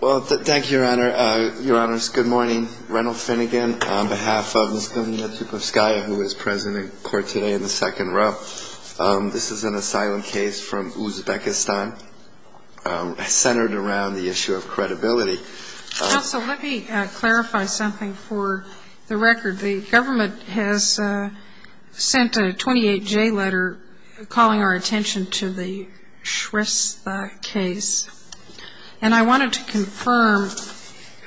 Well, thank you, Your Honor. Your Honors, good morning. Reynold Finnegan, on behalf of Ms. Dunya Tupikovskaya, who is present in court today in the second row. This is an asylum case from Uzbekistan centered around the issue of credibility. Counsel, let me clarify something for the record. The government has sent a 28J letter calling our attention to the Shrestha case. And I wanted to confirm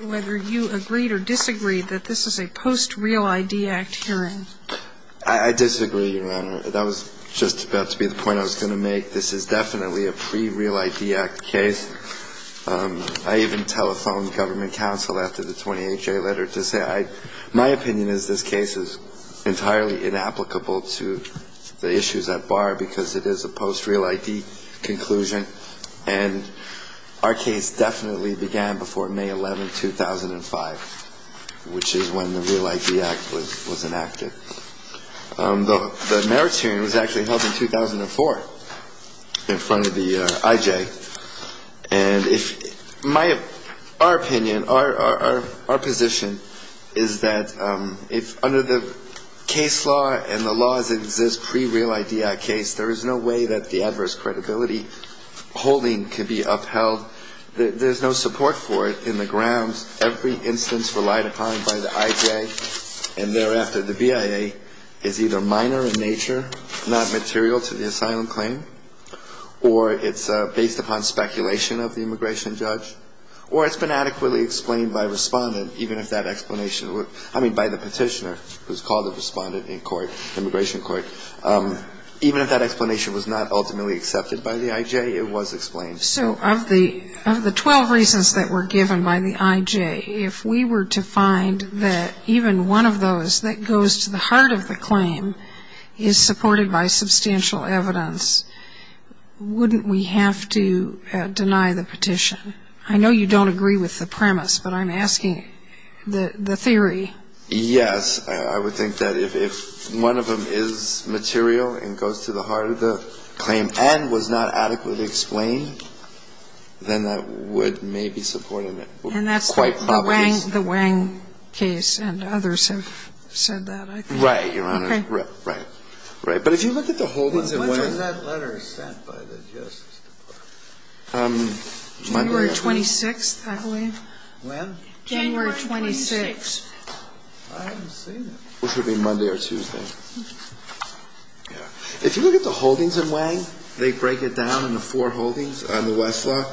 whether you agreed or disagreed that this is a post-Real ID Act hearing. I disagree, Your Honor. That was just about to be the point I was going to make. This is definitely a pre-Real ID Act case. I even telephoned government counsel after the 28J letter to say my opinion is this case is entirely inapplicable to the issues at bar because it is a post-Real ID conclusion. And our case definitely began before May 11, 2005, which is when the Real ID Act was enacted. The meritorian was actually held in 2004 in front of the IJ. And if my – our opinion, our position is that if under the case law and the laws that exist pre-Real ID Act case, there is no way that the adverse credibility holding can be upheld, there's no support for it in the grounds every instance relied upon by the IJ and thereafter. The BIA is either minor in nature, not material to the asylum claim, or it's based upon speculation of the immigration judge, or it's been adequately explained by respondent, I mean by the petitioner who's called the respondent in court, immigration court. Even if that explanation was not ultimately accepted by the IJ, it was explained. So of the 12 reasons that were given by the IJ, if we were to find that even one of those that goes to the heart of the claim is supported by substantial evidence, wouldn't we have to deny the petition? I know you don't agree with the premise, but I'm asking the theory. Yes. I would think that if one of them is material and goes to the heart of the claim and was not adequately explained, then that would maybe support it quite probably. And that's the Wang case, and others have said that, I think. Right, Your Honor. Okay. Right. Right. But if you look at the holdings of Wang. When was that letter sent by the Justice Department? January 26th, I believe. When? January 26th. I haven't seen it. It should be Monday or Tuesday. If you look at the holdings of Wang, they break it down into four holdings on the Westlaw,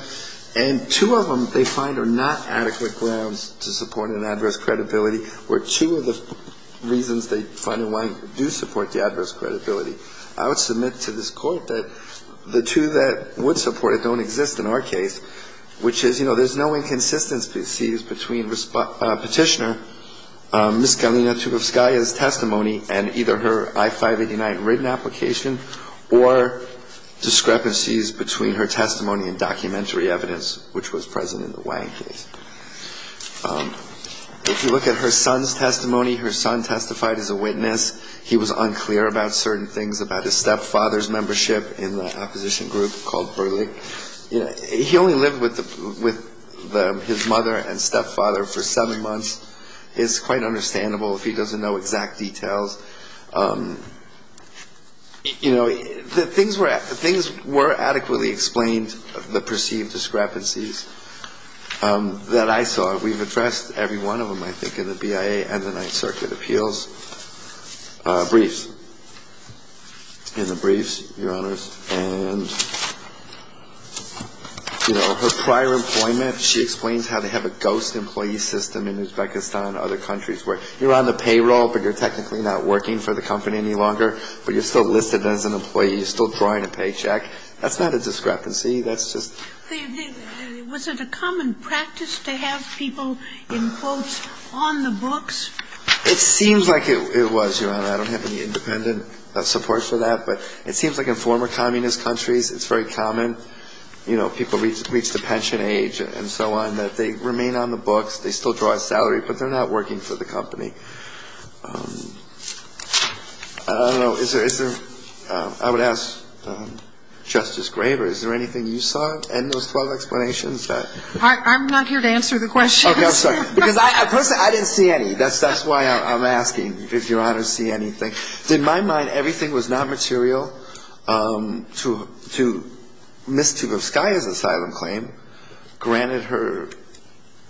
and two of them they find are not adequate grounds to support an adverse credibility, where two of the reasons they find in Wang do support the adverse credibility. I would submit to this Court that the two that would support it don't exist in our case, which is, you know, there's no inconsistencies between Petitioner Ms. Galina Tupovskaya's testimony and either her I-589 written application or discrepancies between her testimony and documentary evidence which was present in the Wang case. If you look at her son's testimony, her son testified as a witness. He was unclear about certain things about his stepfather's membership in the opposition group called Berlig. He only lived with his mother and stepfather for seven months. It's quite understandable if he doesn't know exact details. You know, things were adequately explained, the perceived discrepancies. That I saw. We've addressed every one of them, I think, in the BIA and the Ninth Circuit appeals briefs, in the briefs, Your Honors. And, you know, her prior employment, she explains how they have a ghost employee system in Uzbekistan and other countries where you're on the payroll, but you're technically not working for the company any longer, but you're still listed as an employee. You're still drawing a paycheck. That's not a discrepancy. That's just ‑‑ Was it a common practice to have people, in quotes, on the books? It seems like it was, Your Honor. I don't have any independent support for that, but it seems like in former communist countries it's very common, you know, people reach the pension age and so on, that they remain on the books. They still draw a salary, but they're not working for the company. I don't know. Is there ‑‑ I would ask Justice Graber, is there anything you saw in those 12 explanations that ‑‑ I'm not here to answer the questions. Okay. I'm sorry. Because I personally, I didn't see any. That's why I'm asking if Your Honors see anything. In my mind, everything was not material to Ms. Tugovskaya's asylum claim. Granted, her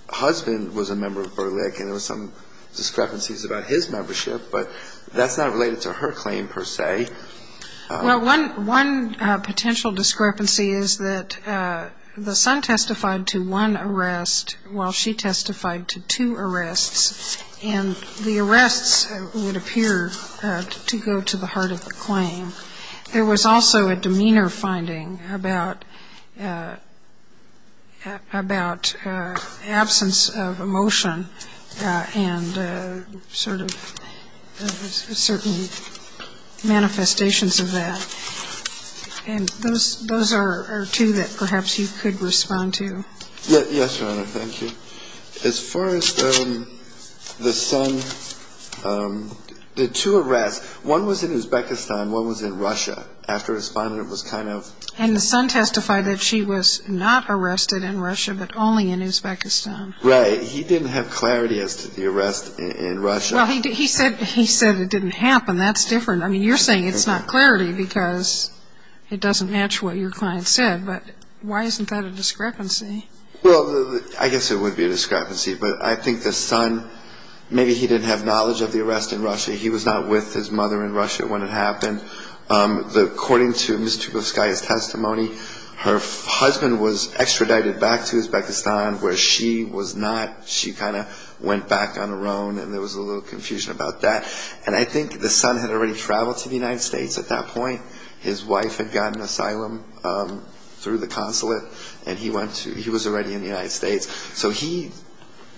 husband was a member of Berlik, and there were some discrepancies about his membership, but that's not related to her claim per se. Well, one potential discrepancy is that the son testified to one arrest while she testified to two arrests, and the arrests would appear to go to the heart of the claim. There was also a demeanor finding about absence of emotion and sort of certain manifestations of that. And those are two that perhaps you could respond to. Yes, Your Honor. Thank you. As far as the son ‑‑ the two arrests, one was in Uzbekistan, one was in Russia. After responding, it was kind of ‑‑ And the son testified that she was not arrested in Russia but only in Uzbekistan. Right. He didn't have clarity as to the arrest in Russia. Well, he said it didn't happen. That's different. I mean, you're saying it's not clarity because it doesn't match what your client said. But why isn't that a discrepancy? Well, I guess it would be a discrepancy. But I think the son, maybe he didn't have knowledge of the arrest in Russia. He was not with his mother in Russia when it happened. According to Ms. Trubovskaya's testimony, her husband was extradited back to Uzbekistan where she was not. She kind of went back on her own, and there was a little confusion about that. And I think the son had already traveled to the United States at that point. His wife had gotten asylum through the consulate, and he went to ‑‑ he was already in the United States. So he ‑‑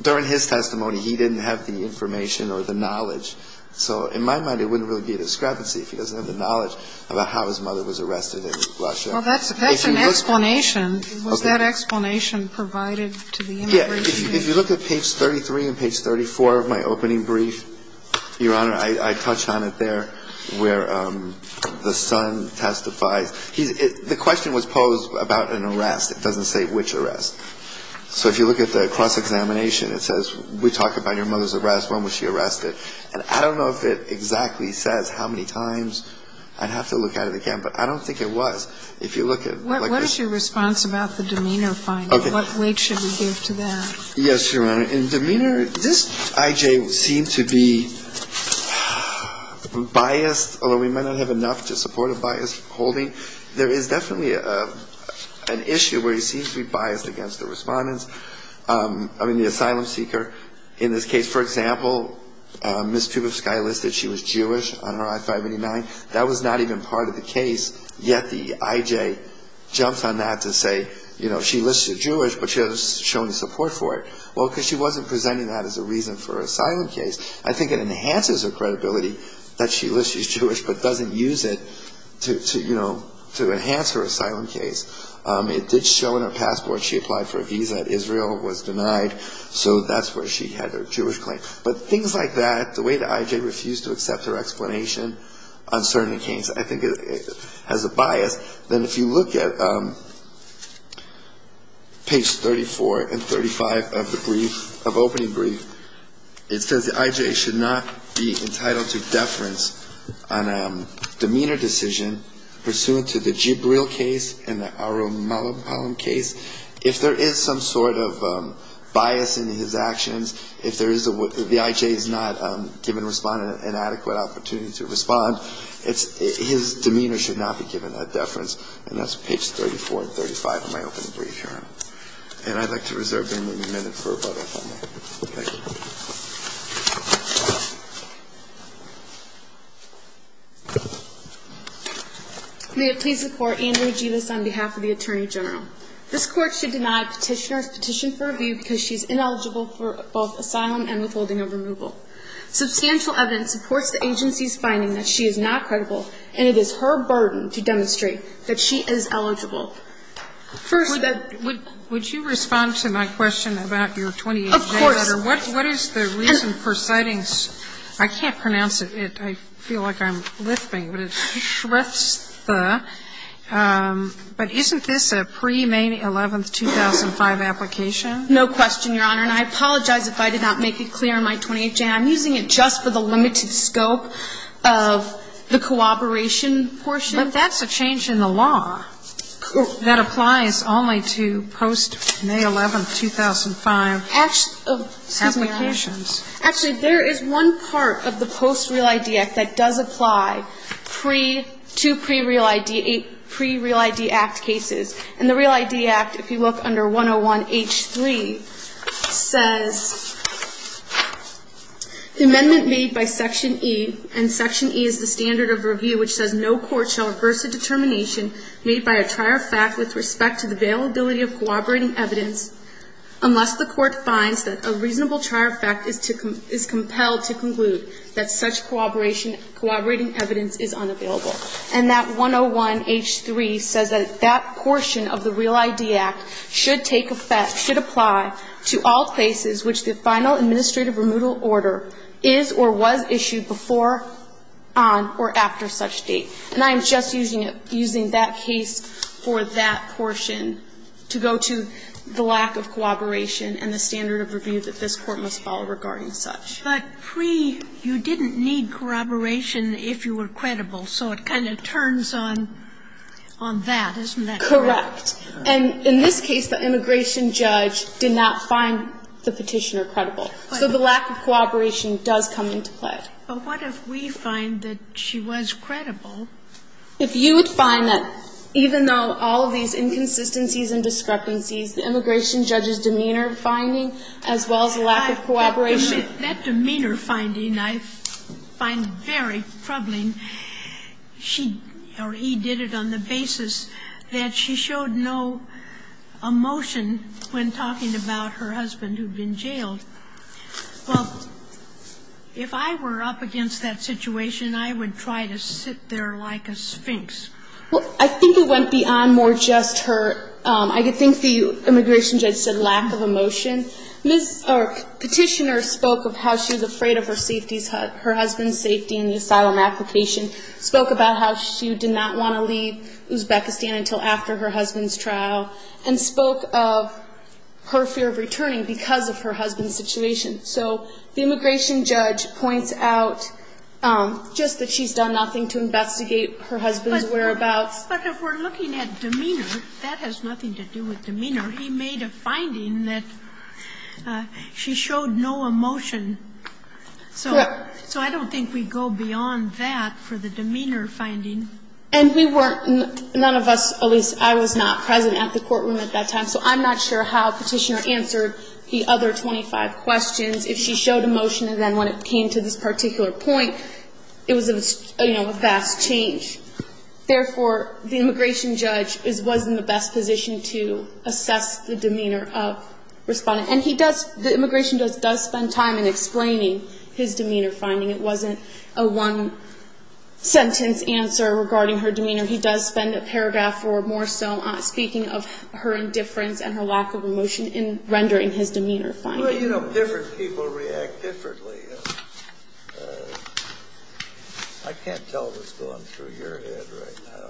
during his testimony, he didn't have the information or the knowledge. So in my mind, it wouldn't really be a discrepancy if he doesn't have the knowledge about how his mother was arrested in Russia. Well, that's an explanation. Was that explanation provided to the immigration? Yeah, if you look at page 33 and page 34 of my opening brief, Your Honor, I touched on it there where the son testifies. The question was posed about an arrest. It doesn't say which arrest. So if you look at the cross-examination, it says we talk about your mother's arrest. When was she arrested? And I don't know if it exactly says how many times. I'd have to look at it again. But I don't think it was. If you look at ‑‑ What is your response about the demeanor finding? Okay. What weight should we give to that? Yes, Your Honor. In demeanor, this I.J. seemed to be biased, although he might not have enough to support a biased holding. There is definitely an issue where he seems to be biased against the respondents, I mean, the asylum seeker. In this case, for example, Ms. Kubitskaya listed she was Jewish on her I-589. That was not even part of the case, yet the I.J. jumps on that to say, you know, she listed Jewish, but she doesn't show any support for it. Well, because she wasn't presenting that as a reason for her asylum case. I think it enhances her credibility that she lists she's Jewish but doesn't use it to, you know, to enhance her asylum case. It did show in her passport she applied for a visa. Israel was denied, so that's where she had her Jewish claim. But things like that, the way the I.J. refused to accept her explanation, I think it has a bias. Then if you look at page 34 and 35 of the brief, of opening brief, it says the I.J. should not be entitled to deference on a demeanor decision pursuant to the Jibril case and the Arum-Palem case if there is some sort of bias in his actions, if the I.J. is not given an adequate opportunity to respond, his demeanor should not be given a deference. And that's page 34 and 35 of my opening brief here. And I'd like to reserve a minute for another comment. Thank you. May it please the Court. Andrea Givis on behalf of the Attorney General. This Court should deny Petitioner's petition for review because she's ineligible for both asylum and withholding of removal. Substantial evidence supports the agency's finding that she is not credible, and it is her burden to demonstrate that she is eligible. First, that the ---- Would you respond to my question about your 28-day letter? Of course. What is the reason for citing ---- I can't pronounce it. I feel like I'm lipping, but it's Shrestha. But isn't this a pre-May 11, 2005 application? No question, Your Honor. And I apologize if I did not make it clear in my 28-day. I'm using it just for the limited scope of the cooperation portion. But that's a change in the law that applies only to post-May 11, 2005 applications. Actually, there is one part of the Post-Real ID Act that does apply to pre-Real ID Act cases. And the Real ID Act, if you look under 101H3, says the amendment made by Section E, and Section E is the standard of review which says no court shall reverse a determination made by a trier fact with respect to the availability of cooperating evidence unless the court finds that a reasonable trier fact is compelled to conclude that such cooperating evidence is unavailable. And that 101H3 says that that portion of the Real ID Act should take effect, should apply to all cases which the final administrative removal order is or was issued before, on, or after such date. And I'm just using it, using that case for that portion to go to the lack of cooperation and the standard of review that this Court must follow regarding such. But pre, you didn't need corroboration if you were credible. So it kind of turns on that. Isn't that correct? Correct. And in this case, the immigration judge did not find the petitioner credible. So the lack of cooperation does come into play. But what if we find that she was credible? If you would find that even though all of these inconsistencies and discrepancies, the immigration judge's demeanor finding as well as lack of cooperation. That demeanor finding I find very troubling. She or he did it on the basis that she showed no emotion when talking about her husband who had been jailed. Well, if I were up against that situation, I would try to sit there like a sphinx. Well, I think it went beyond more just her, I think the immigration judge said lack of emotion. Petitioner spoke of how she was afraid of her husband's safety in the asylum application. Spoke about how she did not want to leave Uzbekistan until after her husband's situation. So the immigration judge points out just that she's done nothing to investigate her husband's whereabouts. But if we're looking at demeanor, that has nothing to do with demeanor. He made a finding that she showed no emotion. Correct. So I don't think we go beyond that for the demeanor finding. And we weren't, none of us, at least I was not present at the courtroom at that time, so I'm not sure how petitioner answered the other 25 questions if she showed emotion and then when it came to this particular point, it was a, you know, a vast change. Therefore, the immigration judge was in the best position to assess the demeanor of respondent. And he does, the immigration judge does spend time in explaining his demeanor finding. It wasn't a one-sentence answer regarding her demeanor. He does spend a paragraph or more so speaking of her indifference and her lack of emotion in rendering his demeanor finding. Well, you know, different people react differently. I can't tell what's going through your head right now.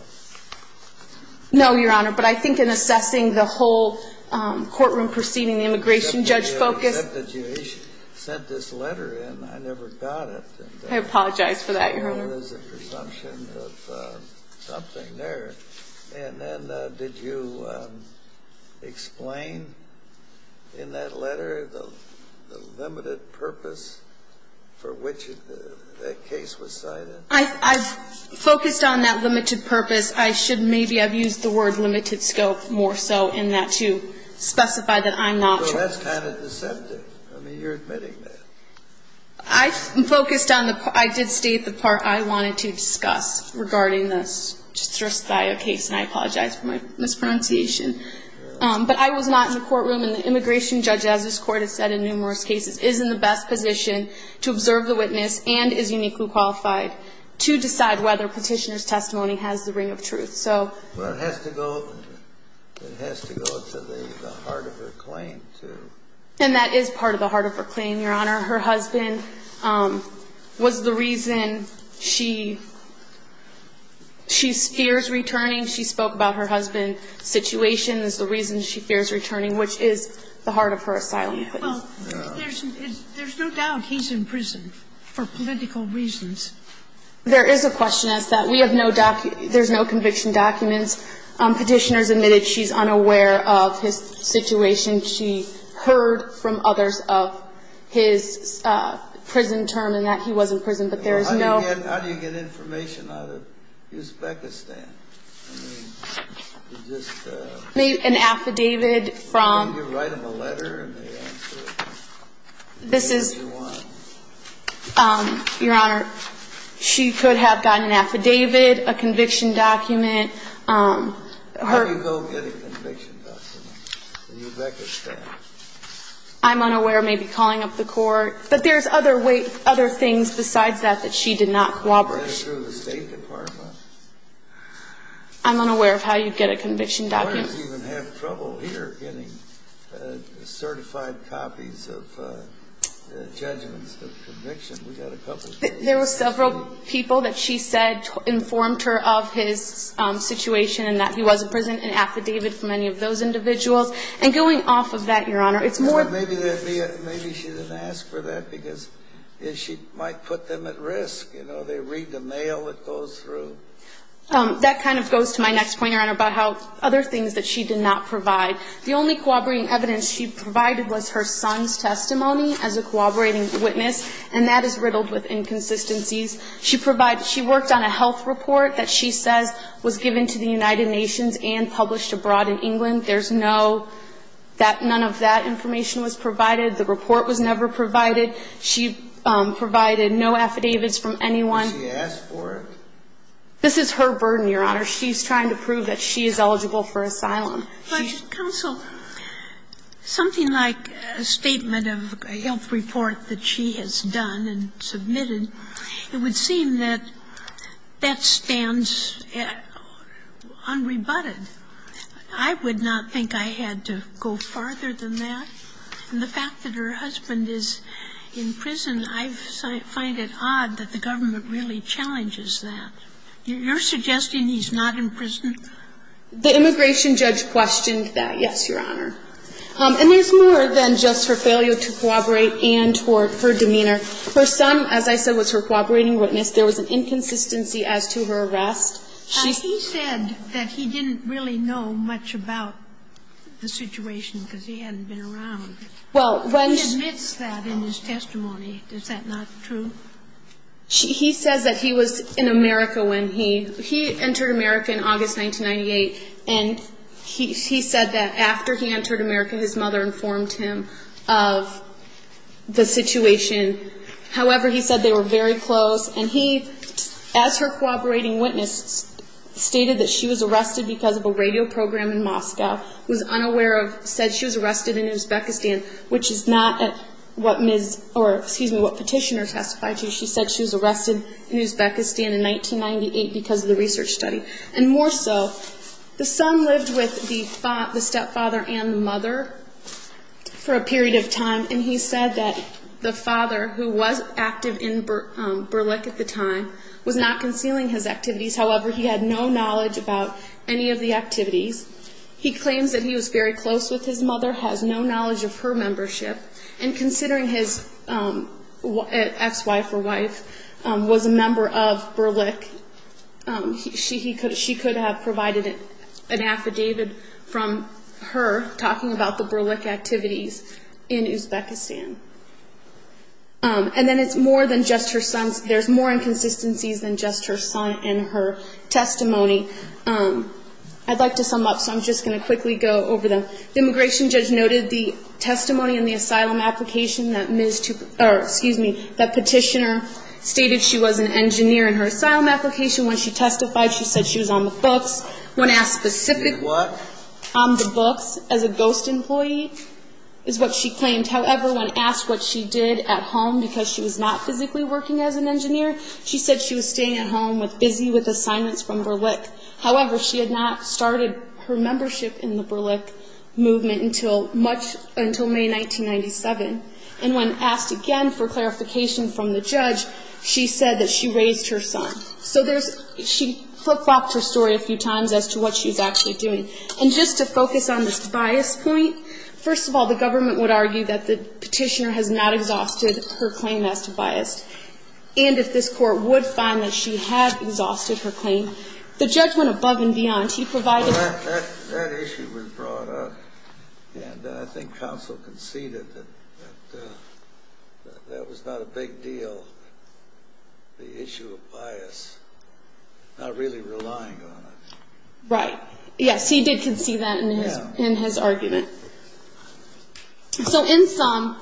No, Your Honor, but I think in assessing the whole courtroom proceeding, the immigration judge focused. Except that you sent this letter in. I never got it. I apologize for that, Your Honor. There is a presumption of something there. And then did you explain in that letter the limited purpose for which the case was cited? I focused on that limited purpose. I should maybe have used the word limited scope more so in that to specify that I'm not sure. Well, that's kind of deceptive. I mean, you're admitting that. I focused on the part. I did state the part I wanted to discuss regarding this. It's just by a case, and I apologize for my mispronunciation. But I was not in the courtroom. And the immigration judge, as this Court has said in numerous cases, is in the best position to observe the witness and is uniquely qualified to decide whether Petitioner's testimony has the ring of truth. Well, it has to go to the heart of her claim, too. And that is part of the heart of her claim, Your Honor. Her husband was the reason she fears returning. She spoke about her husband's situation as the reason she fears returning, which is the heart of her asylum claim. Well, there's no doubt he's in prison for political reasons. There is a question as to that. We have no document. There's no conviction documents. Petitioner's admitted she's unaware of his situation. She heard from others of his prison term and that he was in prison. But there is no ---- How do you get information out of Uzbekistan? I mean, you just ---- An affidavit from ---- You write them a letter and they answer it. This is ---- Whatever you want. Your Honor, she could have gotten an affidavit, a conviction document. How do you go get a conviction document? In Uzbekistan. I'm unaware. Maybe calling up the court. But there's other things besides that that she did not cooperate with. That's through the State Department. I'm unaware of how you get a conviction document. Lawyers even have trouble here getting certified copies of judgments of conviction. We've got a couple ---- There were several people that she said informed her of his situation and that he was in prison, an affidavit from any of those individuals. And going off of that, Your Honor, it's more ---- Maybe she didn't ask for that because she might put them at risk. You know, they read the mail that goes through. That kind of goes to my next point, Your Honor, about how other things that she did not provide. The only cooperating evidence she provided was her son's testimony as a cooperating witness, and that is riddled with inconsistencies. She provided ---- she worked on a health report that she says was given to the United Nations and published abroad in England. There's no ---- that none of that information was provided. The report was never provided. She provided no affidavits from anyone. Did she ask for it? This is her burden, Your Honor. She's trying to prove that she is eligible for asylum. But, counsel, something like a statement of a health report that she has done and submitted, it would seem that that stands unrebutted. I would not think I had to go farther than that. And the fact that her husband is in prison, I find it odd that the government really challenges that. You're suggesting he's not in prison? The immigration judge questioned that, yes, Your Honor. And there's more than just her failure to cooperate and her demeanor. Her son, as I said, was her cooperating witness. There was an inconsistency as to her arrest. She ---- And he said that he didn't really know much about the situation because he hadn't been around. Well, when she ---- He admits that in his testimony. Is that not true? He says that he was in America when he ---- He entered America in August 1998, and he said that after he entered America, his mother informed him of the situation. However, he said they were very close. And he, as her cooperating witness, stated that she was arrested because of a radio program in Moscow, was unaware of, said she was arrested in Uzbekistan, which is not what petitioner testified to. She said she was arrested in Uzbekistan in 1998 because of the research study. And more so, the son lived with the stepfather and the mother for a period of time, and he said that the father, who was active in Berlik at the time, was not concealing his activities. However, he had no knowledge about any of the activities. He claims that he was very close with his mother, has no knowledge of her membership, and considering his ex-wife or wife was a member of Berlik, she could have provided an affidavit from her talking about the Berlik activities in Uzbekistan. And then it's more than just her son's ---- There's more inconsistencies than just her son and her testimony. I'd like to sum up, so I'm just going to quickly go over them. The immigration judge noted the testimony in the asylum application that petitioner stated she was an engineer in her asylum application. When she testified, she said she was on the books. When asked specific what? On the books, as a ghost employee, is what she claimed. However, when asked what she did at home because she was not physically working as an engineer, she said she was staying at home, busy with assignments from Berlik. However, she had not started her membership in the Berlik movement until May 1997. And when asked again for clarification from the judge, she said that she raised her son. So she flip-flopped her story a few times as to what she was actually doing. And just to focus on this bias point, first of all, the government would argue that the petitioner has not exhausted her claim as to bias. And if this court would find that she had exhausted her claim, the judge went above and beyond. He provided... That issue was brought up, and I think counsel conceded that that was not a big deal, the issue of bias, not really relying on it. Right. Yes, he did concede that in his argument. So in sum,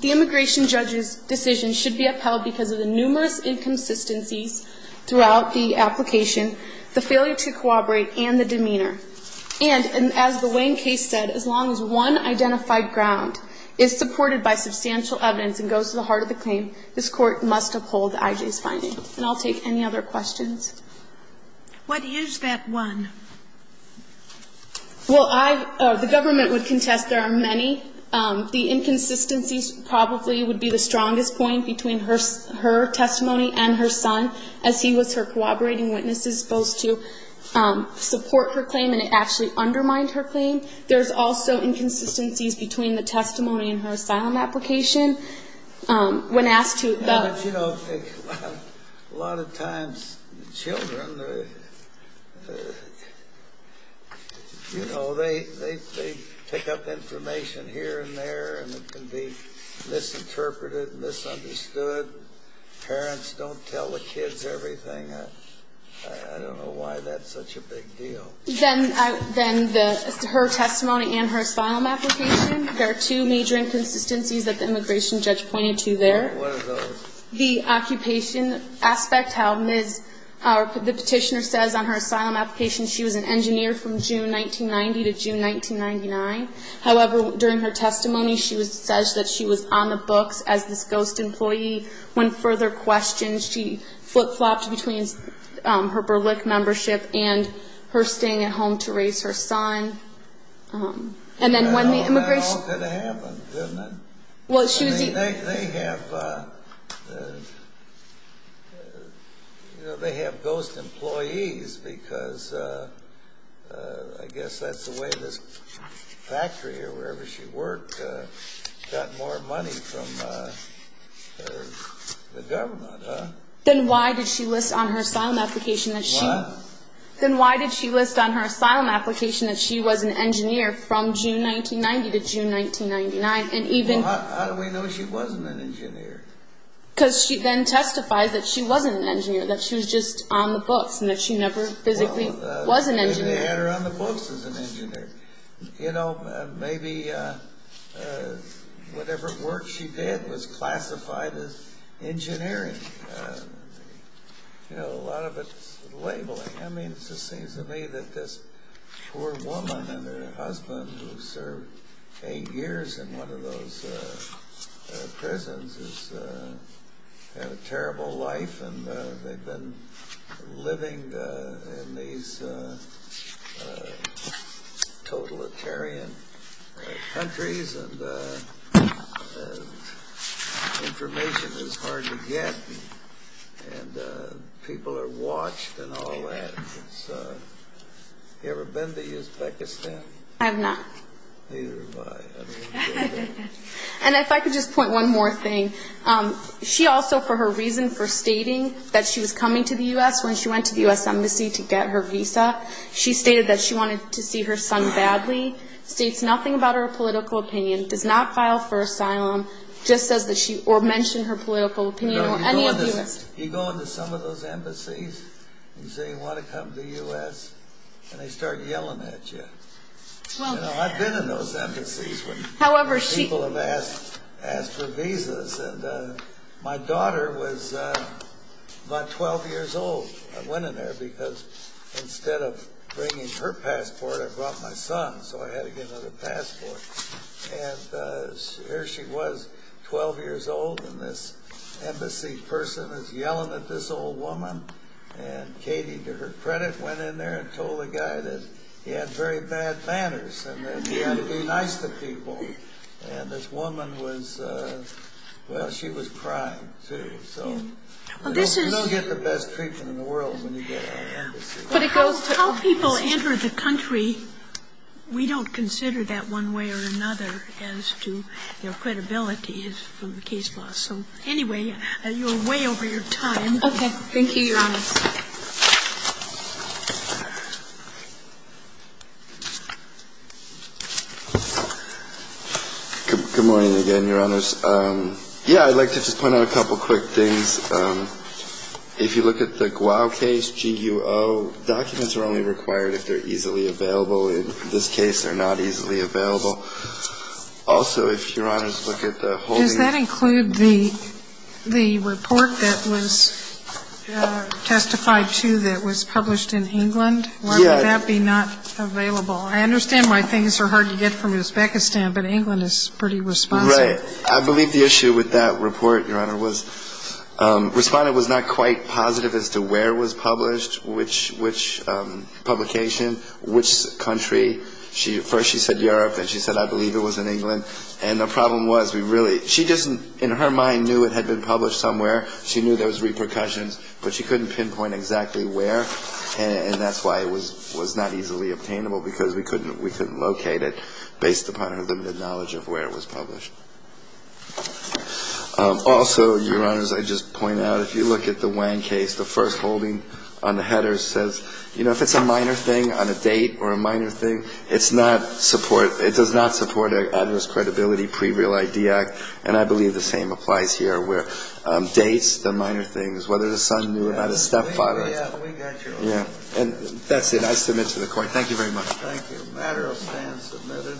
the immigration judge's decision should be upheld because of the numerous inconsistencies throughout the application, the failure to corroborate, and the demeanor. And as the Wayne case said, as long as one identified ground is supported by substantial evidence and goes to the heart of the claim, this court must uphold I.J.'s finding. And I'll take any other questions. What is that one? Well, I... The government would contest there are many. The inconsistencies probably would be the strongest point between her testimony and her son as he was her corroborating witness as opposed to support her claim and it actually undermined her claim. There's also inconsistencies between the testimony and her asylum application. When asked to... You know, a lot of times children, you know, they pick up information here and there and it can be misinterpreted, misunderstood. Parents don't tell the kids everything. I don't know why that's such a big deal. Then her testimony and her asylum application, there are two major inconsistencies that the immigration judge pointed to there. What are those? The occupation aspect, how the petitioner says on her asylum application she was an engineer from June 1990 to June 1999. However, during her testimony she says that she was on the books as this ghost employee. When further questioned, she flip-flopped between her Berlick membership and her staying at home to raise her son. And then when the immigration... That all could have happened, didn't it? Well, she was... They have ghost employees because I guess that's the way this factory or wherever she worked got more money from the government. Then why did she list on her asylum application that she... Wow. Then why did she list on her asylum application that she was an engineer from June 1990 to June 1999 and even... Well, how do we know she wasn't an engineer? Because she then testifies that she wasn't an engineer, and they had her on the books as an engineer. Maybe whatever work she did was classified as engineering. A lot of it is labeling. I mean, it just seems to me that this poor woman and her husband who served eight years in one of those prisons have a terrible life, and they've been living in these totalitarian countries, and information is hard to get, and people are watched and all that. Have you ever been to Uzbekistan? I have not. Neither have I. And if I could just point one more thing. She also, for her reason for stating that she was coming to the U.S. when she went to the U.S. Embassy to get her visa, she stated that she wanted to see her son badly, states nothing about her political opinion, does not file for asylum, or mention her political opinion or any of the U.S. You go into some of those embassies and say you want to come to the U.S., and they start yelling at you. I've been in those embassies where people have asked for visas, and my daughter was about 12 years old. I went in there because instead of bringing her passport, I brought my son, so I had to get another passport. And here she was, 12 years old, and this embassy person is yelling at this old woman, and Katie, to her credit, went in there and told the guy that he had very bad manners and that he had to be nice to people. And this woman was crying, too. You don't get the best treatment in the world when you get out of an embassy. How people enter the country, we don't consider that one way or another as to their credibility from the case law. So anyway, you're way over your time. Okay. Thank you, Your Honors. Good morning again, Your Honors. Yeah, I'd like to just point out a couple quick things. If you look at the Guao case, G-U-O, documents are only required if they're easily available. In this case, they're not easily available. Also, if Your Honors look at the holding of the case. I think you testified, too, that it was published in England. Yeah. Why would that be not available? I understand why things are hard to get from Uzbekistan, but England is pretty responsive. Right. I believe the issue with that report, Your Honor, was Respondent was not quite positive as to where it was published, which publication, which country. First, she said Europe, and she said, I believe it was in England. And the problem was, we really – she just, in her mind, knew it had been published somewhere. She knew there was repercussions, but she couldn't pinpoint exactly where. And that's why it was not easily obtainable, because we couldn't locate it based upon her limited knowledge of where it was published. Also, Your Honors, I'd just point out, if you look at the Wang case, the first holding on the header says, you know, if it's a minor thing on a date or a minor thing, it's not support – it does not support adverse credibility pre-real ID act. And I believe the same applies here, where dates, the minor things, whether the son knew about his stepfather. We got your order. And that's it. I submit to the Court. Thank you very much. Thank you. The matter stands submitted.